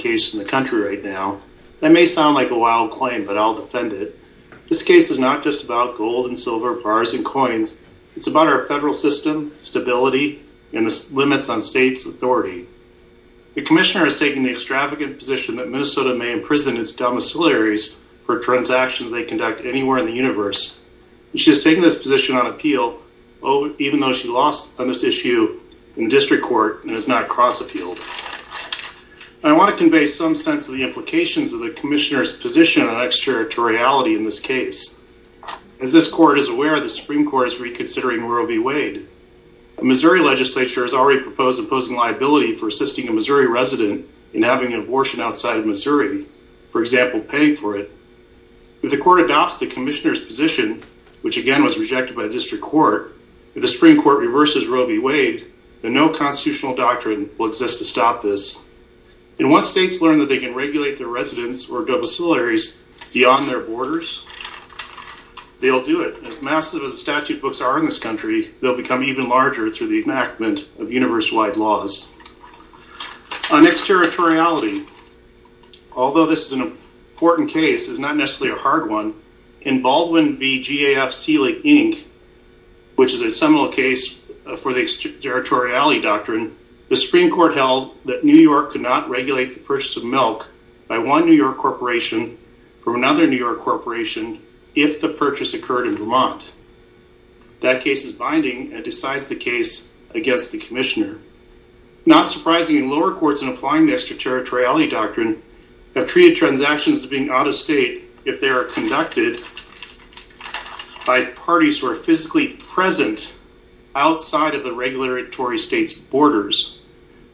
case in the country right now. That may sound like a wild claim, but I'll defend it. This case is not just about gold and silver, bars and coins. It's about our federal system, stability, and the limits on states' authority. The Commissioner is taking the extravagant position that Minnesota may imprison its domiciliaries for transactions they conduct anywhere in the universe. She is taking this position on appeal, even though she lost on this issue and the District Court does not cross appeal. I want to convey some sense of the implications of the Commissioner's position on extraterritoriality in this case. As this Court is aware, the Supreme Court is reconsidering Roe v. Wade. The Missouri legislature has already proposed imposing liability for assisting a Missouri resident in having an abortion outside of Missouri, for example, paying for it. If the Court adopts the Commissioner's position, which again was constitutional doctrine, will exist to stop this. And once states learn that they can regulate their residents or domiciliaries beyond their borders, they'll do it. As massive as statute books are in this country, they'll become even larger through the enactment of universe-wide laws. On extraterritoriality, although this is an important case, it's not the Supreme Court held that New York could not regulate the purchase of milk by one New York corporation from another New York corporation if the purchase occurred in Vermont. That case is binding and decides the case against the Commissioner. Not surprisingly, lower courts in applying the extraterritoriality doctrine have treated transactions as being out of state if they are conducted by parties who are physically present outside of the regulatory state's borders.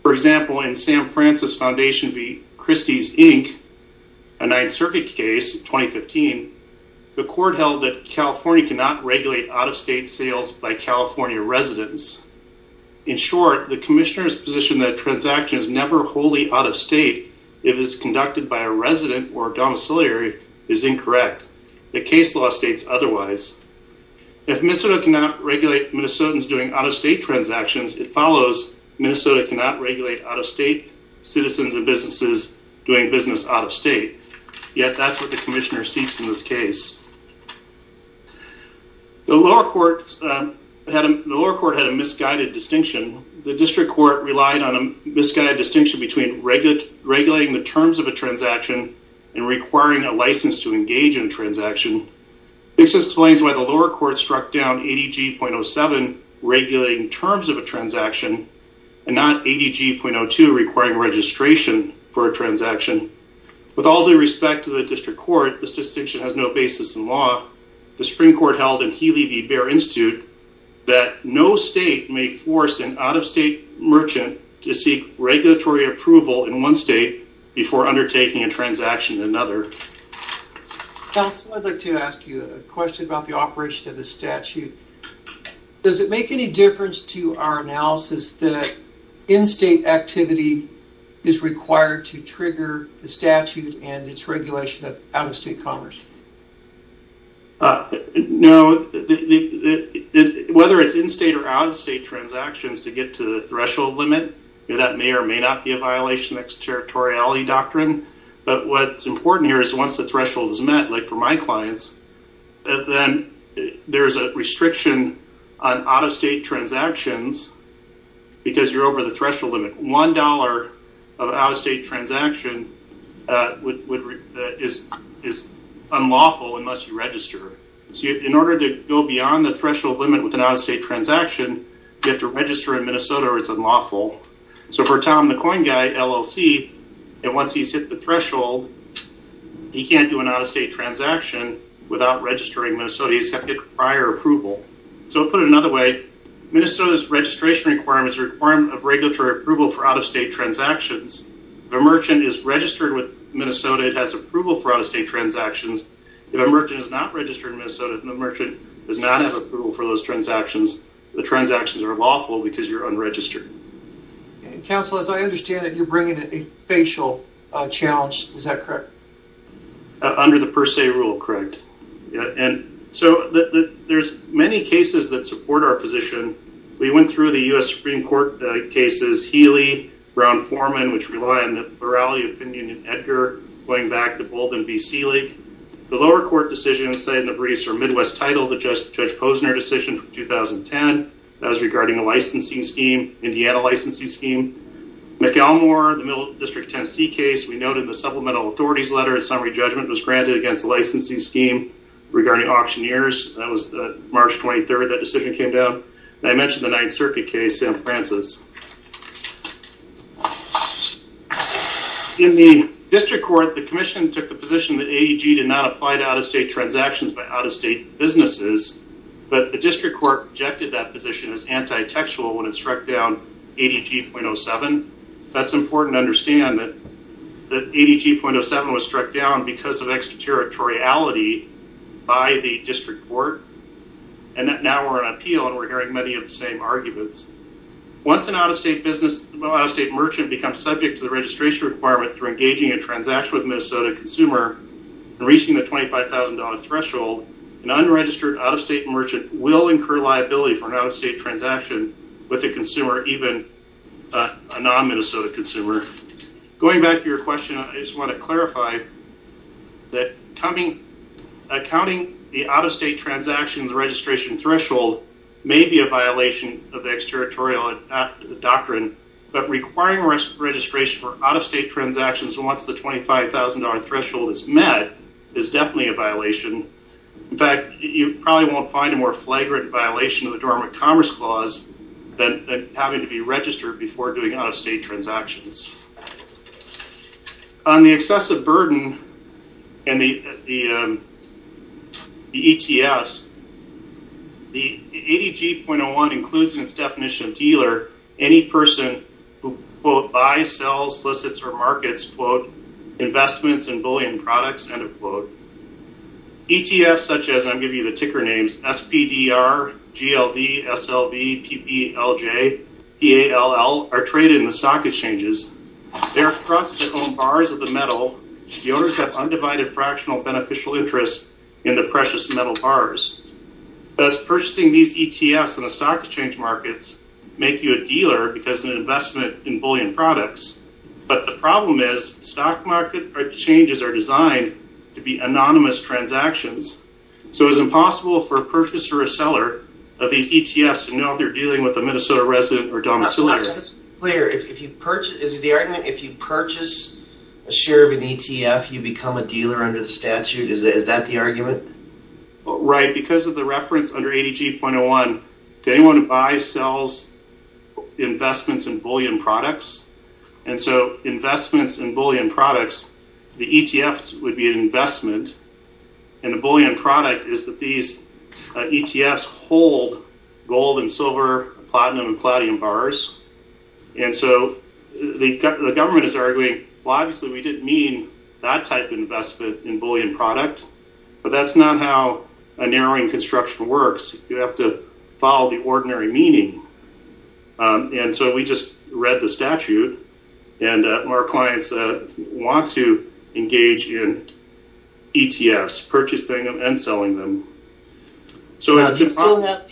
For example, in the San Francisco Foundation v. Christie's Inc., a Ninth Circuit case in 2015, the Court held that California cannot regulate out-of-state sales by California residents. In short, the Commissioner's position that a transaction is never wholly out of state if it is conducted by a resident or domiciliary is incorrect. The case law states otherwise. If Minnesota cannot regulate Minnesotans doing out-of-state transactions, it follows Minnesota cannot regulate out-of-state citizens and businesses doing business out-of-state. Yet, that's what the Commissioner seeks in this case. The lower court had a misguided distinction. The district court relied on a misguided distinction between regulating the terms of a transaction and requiring a license to engage in a transaction. This explains why the lower court struck down 80G.07, regulating terms of a transaction, and not 80G.02, requiring registration for a transaction. With all due respect to the district court, this distinction has no basis in law. The Supreme Court held in Healy v. Baer Institute that no state may force an out-of-state merchant to seek regulatory approval in one state before undertaking a transaction in another. Counsel, I'd like to ask you a question about the operation of the statute. Does it make any difference to our analysis that in-state activity is required to trigger the statute and its regulation of out-of-state commerce? No. Whether it's in-state or out-of-state transactions, to get to the threshold limit, that may or may not be a violation of extraterritoriality doctrine. But what's important here is once the threshold is met, like for my clients, then there's a restriction on out-of-state transactions because you're over the threshold limit. One dollar of an out-of-state transaction is unlawful unless you register. In order to go beyond the threshold limit with an out-of-state transaction, you have to register in Minnesota or it's unlawful. So for Tom, the coin guy at LLC, once he's hit the threshold, he can't do an out-of-state transaction without registering in Minnesota. He's got to get prior approval. So to put it another way, Minnesota's registration requirement is a requirement of regulatory approval for out-of-state transactions. If a merchant is registered with Minnesota, it has approval for out-of-state transactions. If a merchant is not registered in Minnesota, the merchant does not have approval for those transactions. The transactions are lawful because you're unregistered. Counsel, as I understand it, you're bringing in a facial challenge. Is that correct? Under the per se rule, correct. And so there's many cases that support our position. We went through the U.S. Supreme Court cases, Healy, Brown-Forman, which rely on the plurality opinion in Edgar, going back to Bolden v. Seelig. The lower court decisions, say, in the Middle East or Midwest title, the Judge Posner decision from 2010, that was regarding a licensing scheme, Indiana licensing scheme. McElmore, the Middle District Tennessee case, we noted the supplemental authorities letter summary judgment was granted against the licensing scheme regarding auctioneers. That was March 23rd, that decision came down. I mentioned the Ninth Circuit case, San Francis. In the district court, the commission took the position that AEG did not apply to out-of-state transactions by out-of-state businesses, but the district court rejected that position as anti-textual when it struck down ADG.07. That's important to understand that ADG.07 was struck down because of extraterritoriality by the district court, and now we're on appeal and we're hearing many of the same arguments. Once an out-of-state merchant becomes subject to the registration requirement through engaging a transaction with a Minnesota consumer and reaching the $25,000 threshold, an unregistered out-of-state merchant will incur liability for an out-of-state transaction with a consumer, even a non-Minnesota consumer. Going back to your question, I just want to clarify that counting the out-of-state transaction registration threshold may be a violation of the extraterritorial doctrine, but requiring registration for out-of-state transactions once the $25,000 threshold is met is definitely a violation. In fact, you probably won't find a more flagrant violation of the Dormant Commerce Clause than having to be registered before doing out-of-state transactions. On the excessive burden and the ETFs, the ADG.01 includes in its definition of dealer any person who, quote, buys, sells, solicits, or markets, quote, investments in bullion products, end of quote. ETFs such as, and I'll give you the ticker names, SPDR, GLD, SLV, PPLJ, PALL are traded in the stock exchanges. They are trusts that own bars of the metal. The owners have undivided fractional beneficial interest in the precious metal bars. Thus, an investment in bullion products. But the problem is, stock market exchanges are designed to be anonymous transactions, so it's impossible for a purchaser or seller of these ETFs to know if they're dealing with a Minnesota resident or domiciliary. Is the argument that if you purchase a share of an ETF, you become a dealer under the statute? Is that the argument? Right. Because of the reference under ADG.01, to anyone who buys, sells, investments in bullion products. And so, investments in bullion products, the ETFs would be an investment, and the bullion product is that these ETFs hold gold and silver, platinum and palladium bars. And so, the government is arguing, well, obviously we didn't mean that type of investment in bullion product, but that's not how a narrowing construction works. You have to follow the ordinary meaning. And so, we just read the statute, and our clients want to engage in ETFs, purchasing and selling them. Do you still have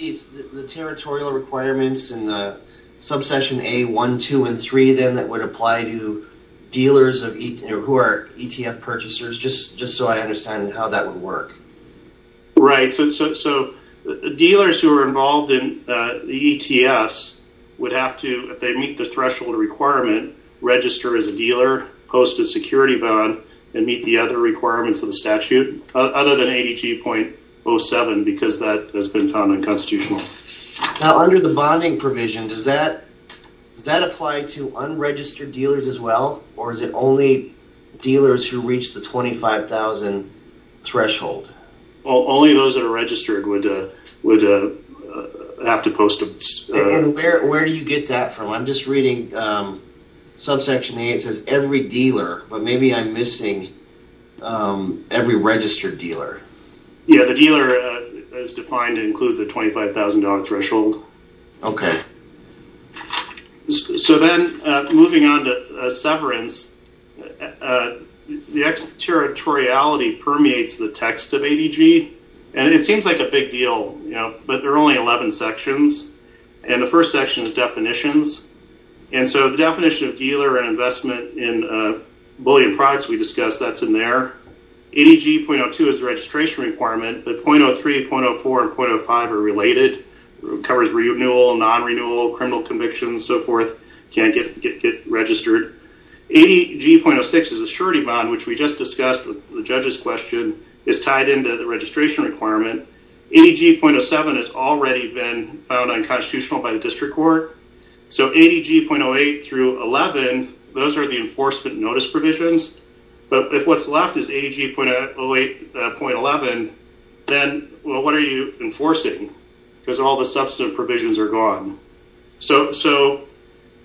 the territorial requirements in the subsection A.1, 2, and 3, then, that would apply to dealers who are ETF purchasers, just so I understand how that would work? Right. So, dealers who are involved in the ETFs would have to, if they meet the threshold requirement, register as a dealer, post a security bond, and meet the other requirements of the statute, other than ADG.07, because that has been found unconstitutional. Now, under the bonding provision, does that apply to unregistered dealers as well, or is it only dealers who reach the 25,000 threshold? Only those that are registered would have to post a… And where do you get that from? I'm just reading subsection A, it says every dealer, but maybe I'm missing every registered dealer. Yeah, the dealer is defined to include the $25,000 threshold. Okay. So then, moving on to severance, the territoriality permeates the text of ADG, and it seems like a big deal, you know, but there are only 11 sections, and the first section is definitions. And so, the definition of dealer and investment in bullion products we discussed, that's in there. ADG.02 is the registration requirement, but 0.03, 0.04, and 0.05 are related, covers renewal, non-renewal, criminal convictions, and so forth, can't get registered. ADG.06 is a surety bond, which we just discussed with the judge's question, is tied into the registration requirement. ADG.07 has already been found unconstitutional by the district court. So, ADG.08 through 11, those are the enforcement notice provisions, but if what's left is ADG.08, 0.11, then, well, what are you enforcing? Because all the substantive provisions are gone. So,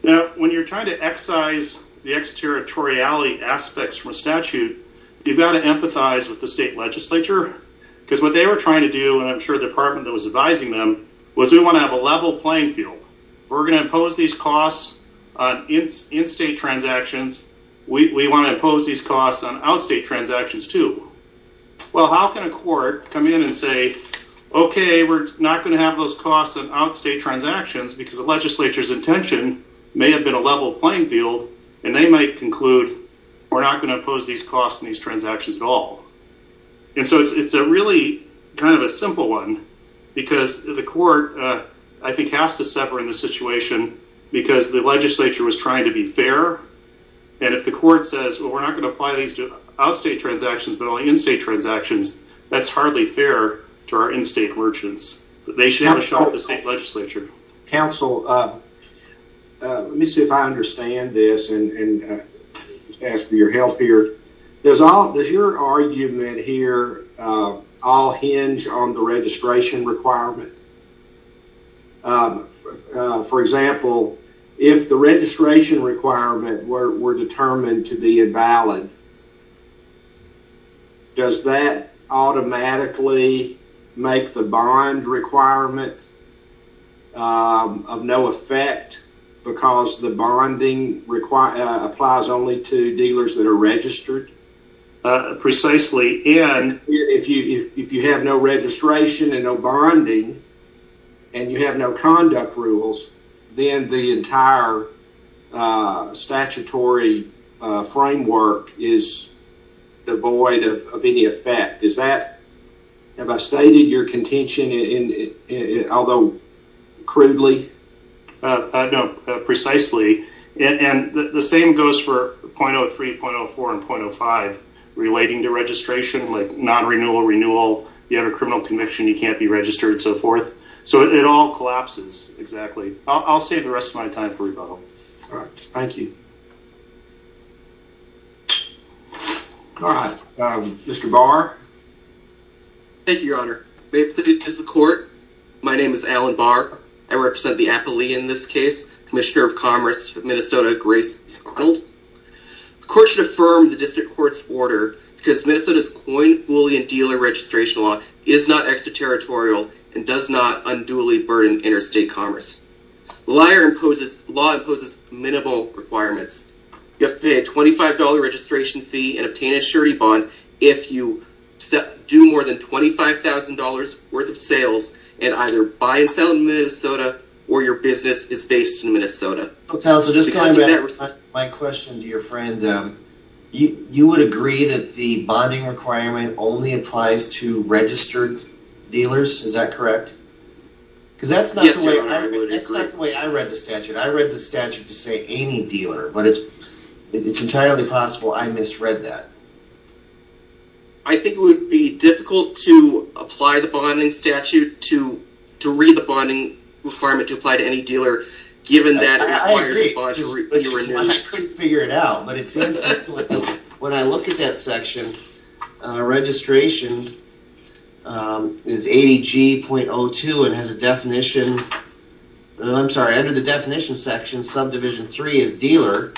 now, when you're trying to excise the exterritoriality aspects from a statute, you've got to empathize with the state legislature, because what they were trying to do, and I'm advising them, was we want to have a level playing field. If we're going to impose these costs on in-state transactions, we want to impose these costs on out-state transactions, too. Well, how can a court come in and say, okay, we're not going to have those costs on out-state transactions, because the legislature's intention may have been a level playing field, and they might conclude, we're not going to impose these costs on these transactions at all. And so, it's a really kind of a simple one, because the court, I think, has to suffer in this situation, because the legislature was trying to be fair, and if the court says, well, we're not going to apply these to out-state transactions, but only in-state transactions, that's hardly fair to our in-state merchants. They should have a shot at the state legislature. Counsel, let me see if I understand this, and ask for your help here. Does your argument here all hinge on the registration requirement? For example, if the registration requirement were determined to be invalid, does that automatically make the bond requirement of no effect, because the bonding applies only to dealers that are registered? Precisely. If you have no registration and no bonding, and you have no conduct rules, then the entire statutory framework is devoid of any effect. Have I stated your contention, although crudely? No, precisely. And the same goes for .03, .04, and .05, relating to registration, like non-renewal, renewal, you have a criminal conviction, you can't be registered, and so forth. So, it all collapses, exactly. I'll save the rest of my time for rebuttal. All right, thank you. All right, Mr. Barr? Thank you, Your Honor. May it please the Court, my name is Alan Barr. I represent the Appalachian in this case, Commissioner of Commerce of Minnesota, Grace Arnold. The Court should affirm the District Court's order, because Minnesota's coin, bully, and dealer registration law is not extraterritorial, and does not unduly burden interstate commerce. Law imposes minimal requirements. You have to pay a $25 registration fee and obtain a surety bond if you do more than $25,000 worth of sales and either buy and sell in Minnesota, or your business is based in Minnesota. Counsel, just going back to my question to your friend, you would agree that the bonding requirement only applies to registered dealers, is that correct? Yes, Your Honor, I would agree. Because that's not the way I read the statute. I read the statute to say any dealer, but it's entirely possible I misread that. I think it would be difficult to apply the bonding statute, to read the bonding requirement to apply to any dealer, given that it requires a bond to renew. I agree, which is why I couldn't figure it out. When I look at that section, registration is 80G.02 and has a definition. I'm sorry, under the definition section, subdivision 3 is dealer.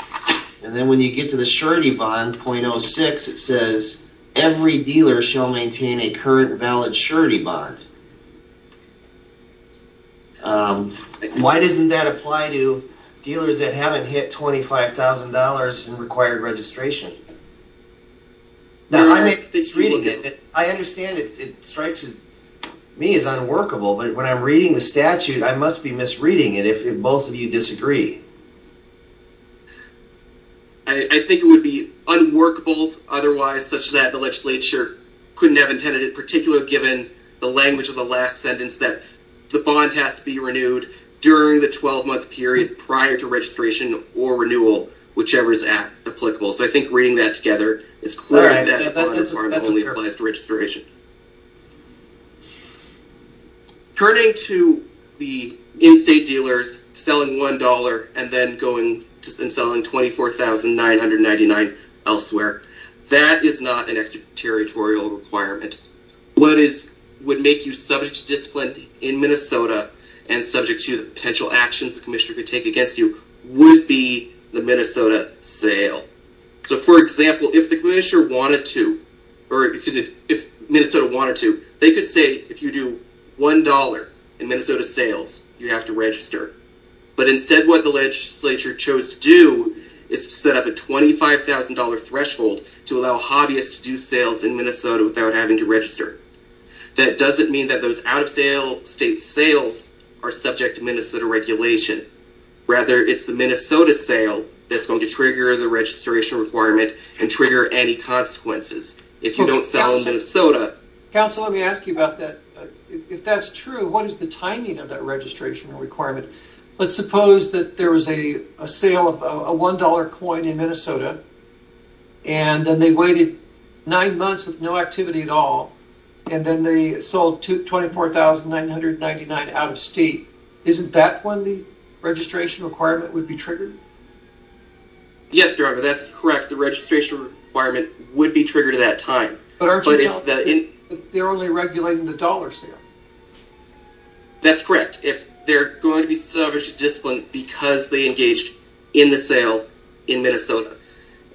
And then when you get to the surety bond, .06, it says every dealer shall maintain a current valid surety bond. Why doesn't that apply to dealers that haven't hit $25,000 in required registration? I understand it strikes me as unworkable, but when I'm reading the statute, I must be misreading it if both of you disagree. I think it would be unworkable otherwise, such that the legislature couldn't have intended it, particularly given the language of the last sentence that the bond has to be renewed during the 12-month period prior to registration or renewal, whichever is applicable. So I think reading that together is clear that that bond only applies to registration. Turning to the in-state dealers selling $1 and then going and selling $24,999 elsewhere, that is not an extraterritorial requirement. What would make you subject to discipline in Minnesota and subject to the potential actions the commissioner could take against you would be the Minnesota sale. So, for example, if Minnesota wanted to, they could say if you do $1 in Minnesota sales, you have to register. But instead what the legislature chose to do is to set up a $25,000 threshold to allow hobbyists to do sales in Minnesota without having to register. That doesn't mean that those out-of-state sales are subject to Minnesota regulation. Rather, it's the Minnesota sale that's going to trigger the registration requirement and trigger any consequences. If you don't sell in Minnesota... Counsel, let me ask you about that. If that's true, what is the timing of that registration requirement? Let's suppose that there was a sale of a $1 coin in Minnesota, and then they waited nine months with no activity at all, and then they sold $24,999 out of state. Isn't that when the registration requirement would be triggered? Yes, that's correct. The registration requirement would be triggered at that time. But they're only regulating the dollar sale. That's correct. They're going to be subject to discipline because they engaged in the sale in Minnesota.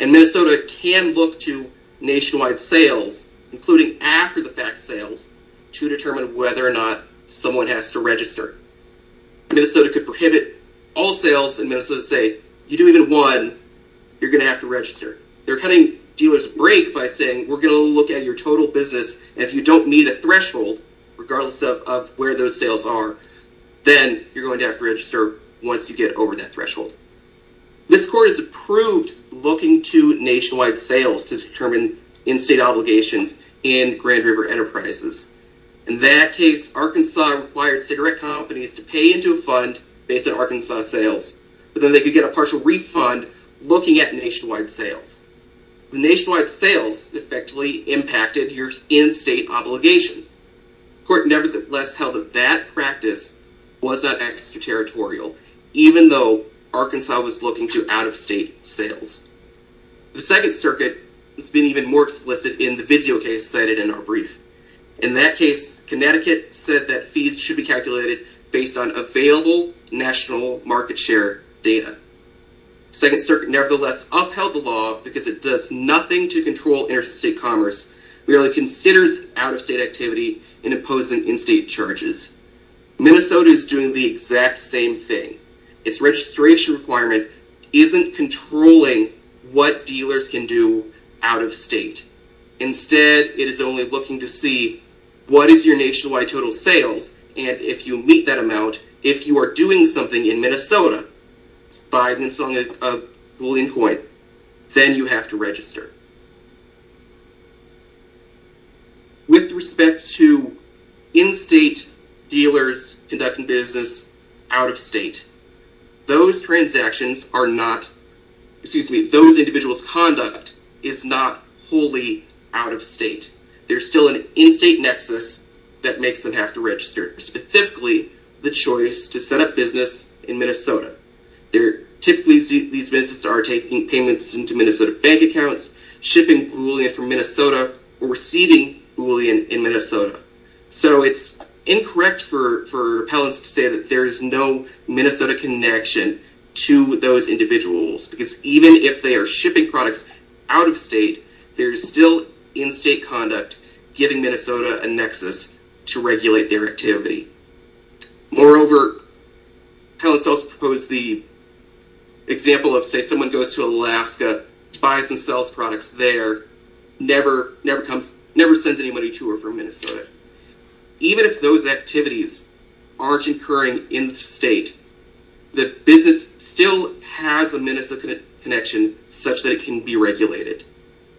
And Minnesota can look to nationwide sales, including after-the-fact sales, to determine whether or not someone has to register. Minnesota could prohibit all sales in Minnesota and say, you do even one, you're going to have to register. They're cutting dealers a break by saying, we're going to look at your total business, and if you don't meet a threshold, regardless of where those sales are, then you're going to have to register once you get over that threshold. This court has approved looking to nationwide sales to determine in-state obligations in Grand River Enterprises. In that case, Arkansas required cigarette companies to pay into a fund based on Arkansas sales, but then they could get a partial refund looking at nationwide sales. The nationwide sales effectively impacted your in-state obligation. The court nevertheless held that that practice was not extraterritorial, even though Arkansas was looking to out-of-state sales. The Second Circuit has been even more explicit in the Visio case cited in our brief. In that case, Connecticut said that fees should be calculated based on available national market share data. Second Circuit nevertheless upheld the law because it does nothing to control interstate commerce, merely considers out-of-state activity and imposing in-state charges. Minnesota is doing the exact same thing. Its registration requirement isn't controlling what dealers can do out-of-state. Instead, it is only looking to see what is your nationwide total sales, and if you meet that amount, if you are doing something in Minnesota. If you are buying and selling a bullion coin, then you have to register. With respect to in-state dealers conducting business out-of-state, those transactions are not, excuse me, those individuals' conduct is not wholly out-of-state. There is still an in-state nexus that makes them have to register. Specifically, the choice to set up business in Minnesota. Typically, these businesses are taking payments into Minnesota bank accounts, shipping bullion from Minnesota, or receiving bullion in Minnesota. So it's incorrect for appellants to say that there is no Minnesota connection to those individuals. Because even if they are shipping products out-of-state, there is still in-state conduct giving Minnesota a nexus to regulate their activity. Moreover, appellants also propose the example of, say, someone goes to Alaska, buys and sells products there, never sends anybody to or from Minnesota. Even if those activities aren't occurring in-state, the business still has a Minnesota connection such that it can be regulated.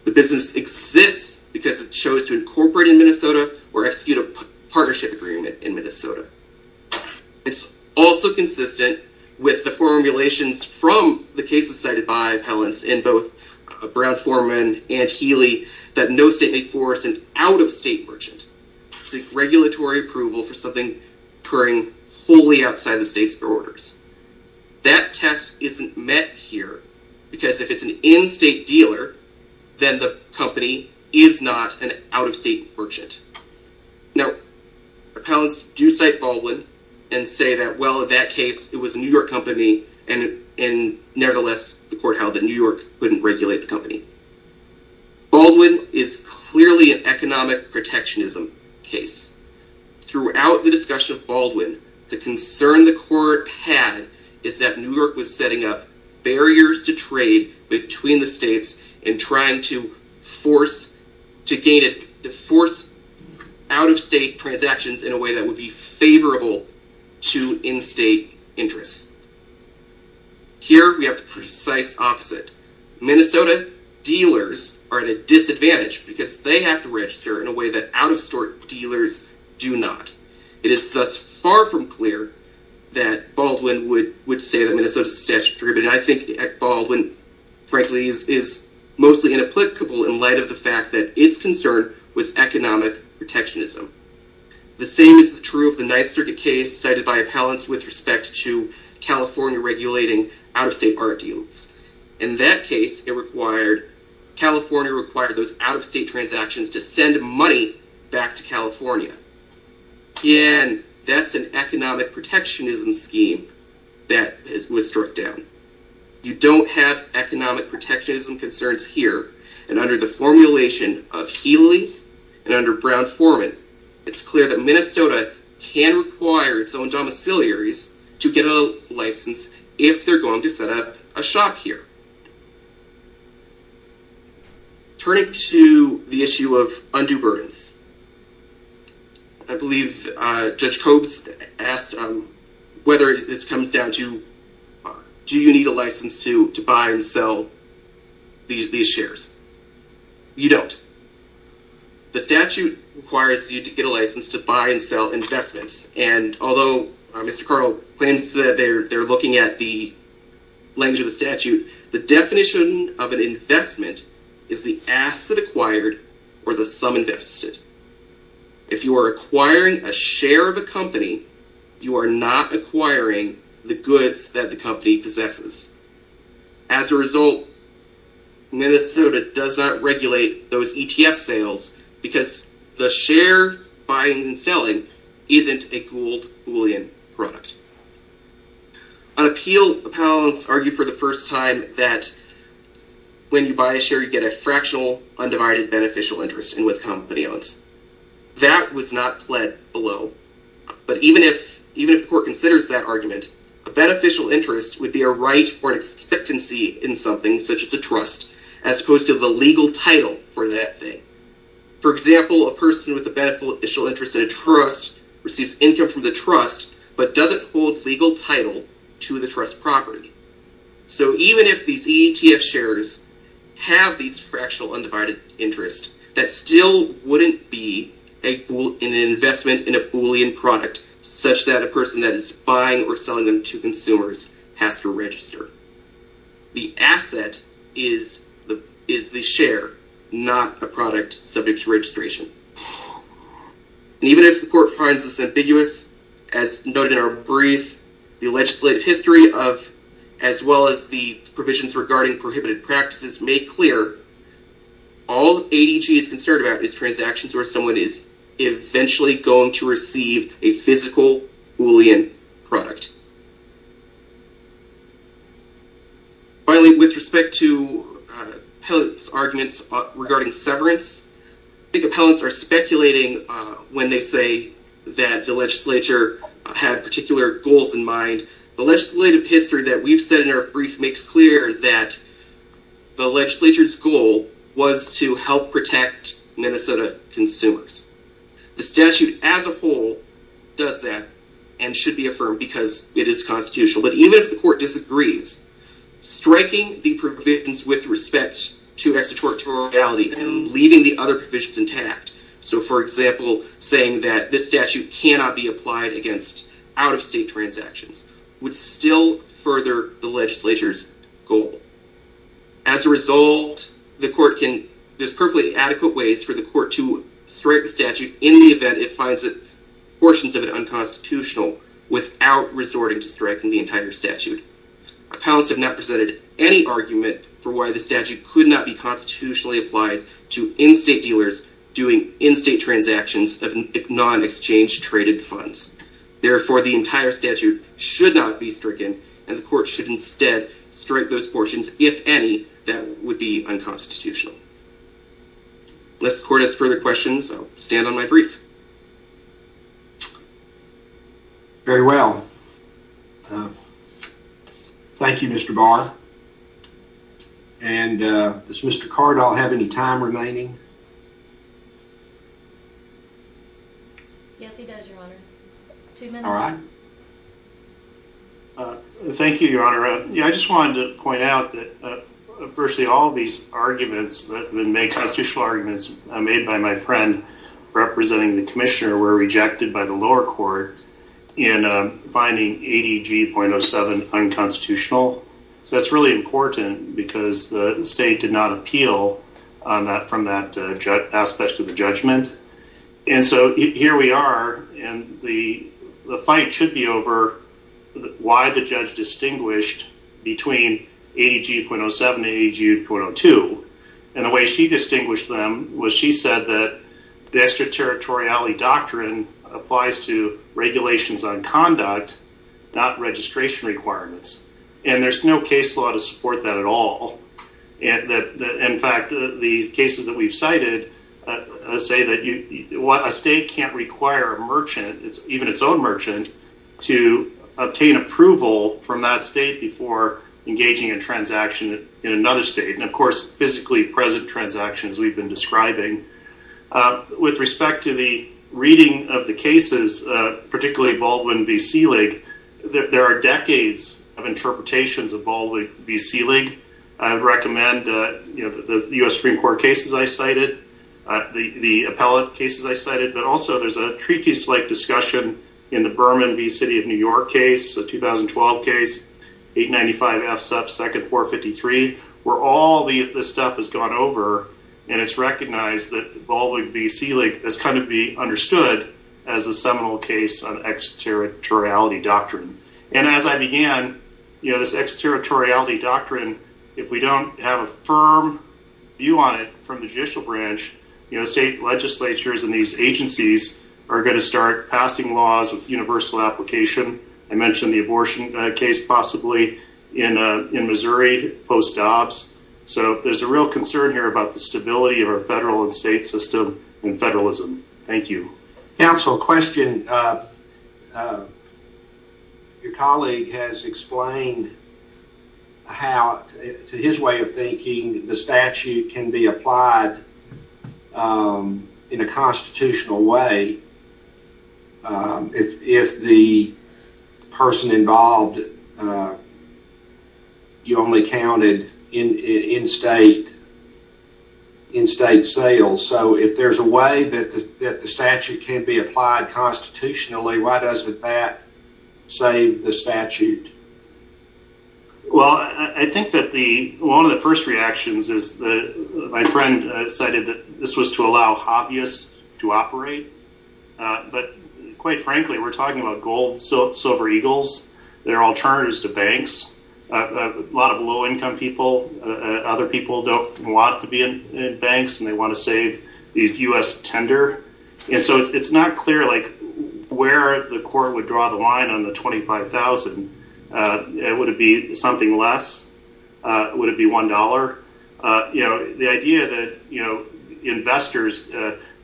The business exists because it chose to incorporate in Minnesota or execute a partnership agreement in Minnesota. It's also consistent with the formulations from the cases cited by appellants in both Brown-Forman and Healy that no state may force an out-of-state merchant to seek regulatory approval for something occurring wholly outside the state's borders. That test isn't met here because if it's an in-state dealer, then the company is not an out-of-state merchant. Now, appellants do cite Baldwin and say that, well, in that case, it was a New York company, and nevertheless, the court held that New York couldn't regulate the company. Baldwin is clearly an economic protectionism case. Throughout the discussion of Baldwin, the concern the court had is that New York was setting up barriers to trade between the states and trying to force out-of-state transactions in a way that would be favorable to in-state interests. Here, we have the precise opposite. Minnesota dealers are at a disadvantage because they have to register in a way that out-of-store dealers do not. It is thus far from clear that Baldwin would say that Minnesota is a statutory agreement. I think Baldwin, frankly, is mostly inapplicable in light of the fact that its concern was economic protectionism. The same is true of the Ninth Circuit case cited by appellants with respect to California regulating out-of-state art deals. In that case, California required those out-of-state transactions to send money back to California. Again, that's an economic protectionism scheme that was struck down. You don't have economic protectionism concerns here, and under the formulation of Healy and under Brown-Forman, it's clear that Minnesota can require its own domiciliaries to get a license if they're going to set up a shop here. Turning to the issue of undue burdens, I believe Judge Cobes asked whether this comes down to, do you need a license to buy and sell these shares? You don't. The statute requires you to get a license to buy and sell investments. Although Mr. Cardell claims that they're looking at the language of the statute, the definition of an investment is the asset acquired or the sum invested. If you are acquiring a share of a company, you are not acquiring the goods that the company possesses. As a result, Minnesota does not regulate those ETF sales because the share buying and selling isn't a Gould-Boolean product. On appeal, appellants argue for the first time that when you buy a share, you get a fractional undivided beneficial interest in what the company owns. That was not pled below, but even if the court considers that argument, a beneficial interest would be a right or an expectancy in something, such as a trust, as opposed to the legal title for that thing. For example, a person with a beneficial interest in a trust receives income from the trust, but doesn't hold legal title to the trust property. So even if these ETF shares have these fractional undivided interest, that still wouldn't be an investment in a Boolean product, such that a person that is buying or selling them to consumers has to register. The asset is the share, not a product subject to registration. Even if the court finds this ambiguous, as noted in our brief, the legislative history, as well as the provisions regarding prohibited practices, make clear that all ADG is concerned about is transactions where someone is eventually going to receive a physical Boolean product. Finally, with respect to appellant's arguments regarding severance, I think appellants are speculating when they say that the legislature had particular goals in mind. The legislative history that we've said in our brief makes clear that the legislature's goal was to help protect Minnesota consumers. The statute as a whole does that and should be affirmed because it is constitutional. But even if the court disagrees, striking the provisions with respect to extraterritoriality and leaving the other provisions intact, so for example, saying that this statute cannot be applied against out-of-state transactions, would still further the legislature's goal. As a result, there's perfectly adequate ways for the court to strike the statute in the event it finds portions of it unconstitutional without resorting to striking the entire statute. Appellants have not presented any argument for why the statute could not be constitutionally applied to in-state dealers doing in-state transactions of non-exchange traded funds. Therefore, the entire statute should not be stricken and the court should instead strike those portions, if any, that would be unconstitutional. Unless the court has further questions, I'll stand on my brief. Very well. Thank you, Mr. Barr. And does Mr. Cardall have any time remaining? Yes, he does, Your Honor. Two minutes. Thank you, Your Honor. I just wanted to point out that virtually all these arguments that would make constitutional arguments made by my friend representing the commissioner were rejected by the lower court in finding 80G.07 unconstitutional. So that's really important because the state did not appeal from that aspect of the judgment. And so here we are, and the fight should be over why the judge distinguished between 80G.07 and 80G.02. And the way she distinguished them was she said that the extraterritoriality doctrine applies to regulations on conduct, not registration requirements. And there's no case law to support that at all. In fact, the cases that we've cited say that a state can't require a merchant, even its own merchant, to obtain approval from that state before engaging in transaction in another state. And, of course, physically present transactions we've been describing. With respect to the reading of the cases, particularly Baldwin v. Selig, there are decades of interpretations of Baldwin v. Selig. I recommend the U.S. Supreme Court cases I cited, the appellate cases I cited. But also there's a treatise-like discussion in the Berman v. City of New York case, the 2012 case, 895F sub 2nd 453, where all the stuff has gone over. And it's recognized that Baldwin v. Selig has come to be understood as a seminal case on extraterritoriality doctrine. And as I began, you know, this extraterritoriality doctrine, if we don't have a firm view on it from the judicial branch, you know, state legislatures and these agencies are going to start passing laws with universal application. I mentioned the abortion case possibly in Missouri post-Dobbs. So there's a real concern here about the stability of our federal and state system and federalism. Thank you. Counsel, question. Your colleague has explained how, to his way of thinking, the statute can be applied in a constitutional way. If the person involved, you only counted in state, in state sales. So if there's a way that the statute can be applied constitutionally, why doesn't that save the statute? Well, I think that one of the first reactions is my friend cited that this was to allow hobbyists to operate. But quite frankly, we're talking about gold and silver eagles. They're alternatives to banks. A lot of low income people, other people don't want to be in banks and they want to save these U.S. tender. And so it's not clear like where the court would draw the line on the twenty five thousand. Would it be something less? Would it be one dollar? The idea that, you know, investors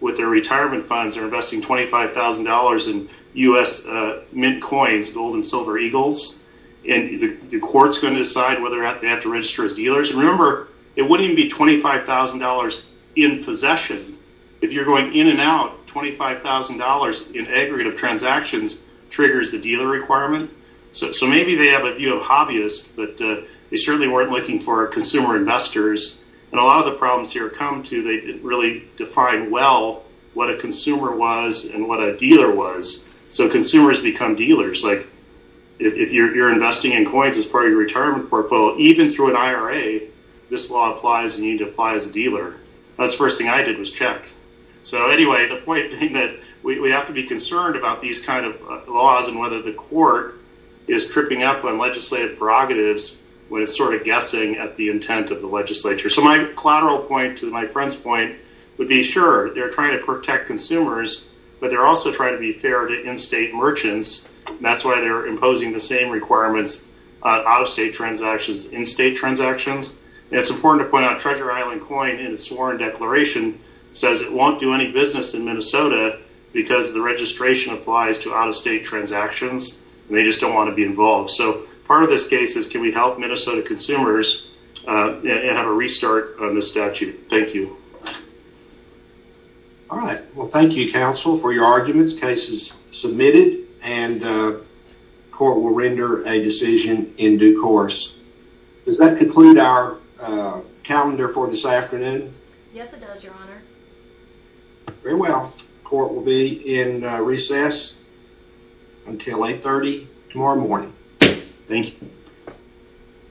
with their retirement funds are investing twenty five thousand dollars in U.S. mint coins, gold and silver eagles. And the court's going to decide whether they have to register as dealers. Remember, it wouldn't be twenty five thousand dollars in possession if you're going in and out. Twenty five thousand dollars in aggregate of transactions triggers the dealer requirement. So maybe they have a view of hobbyists, but they certainly weren't looking for consumer investors. And a lot of the problems here come to they really define well what a consumer was and what a dealer was. So consumers become dealers. Like if you're investing in coins as part of your retirement portfolio, even through an IRA, this law applies and you need to apply as a dealer. That's the first thing I did was check. So anyway, the point that we have to be concerned about these kind of laws and whether the court is tripping up on legislative prerogatives when it's sort of guessing at the intent of the legislature. So my collateral point to my friend's point would be, sure, they're trying to protect consumers, but they're also trying to be fair to in-state merchants. That's why they're imposing the same requirements out of state transactions in state transactions. It's important to point out Treasure Island coin in the sworn declaration says it won't do any business in Minnesota because the registration applies to out of state transactions. They just don't want to be involved. So part of this case is can we help Minnesota consumers have a restart on the statute? Thank you. All right. Well, thank you, counsel, for your arguments. Cases submitted and court will render a decision in due course. Does that conclude our calendar for this afternoon? Yes, it does, Your Honor. Very well. Court will be in recess until 830 tomorrow morning. Thank you.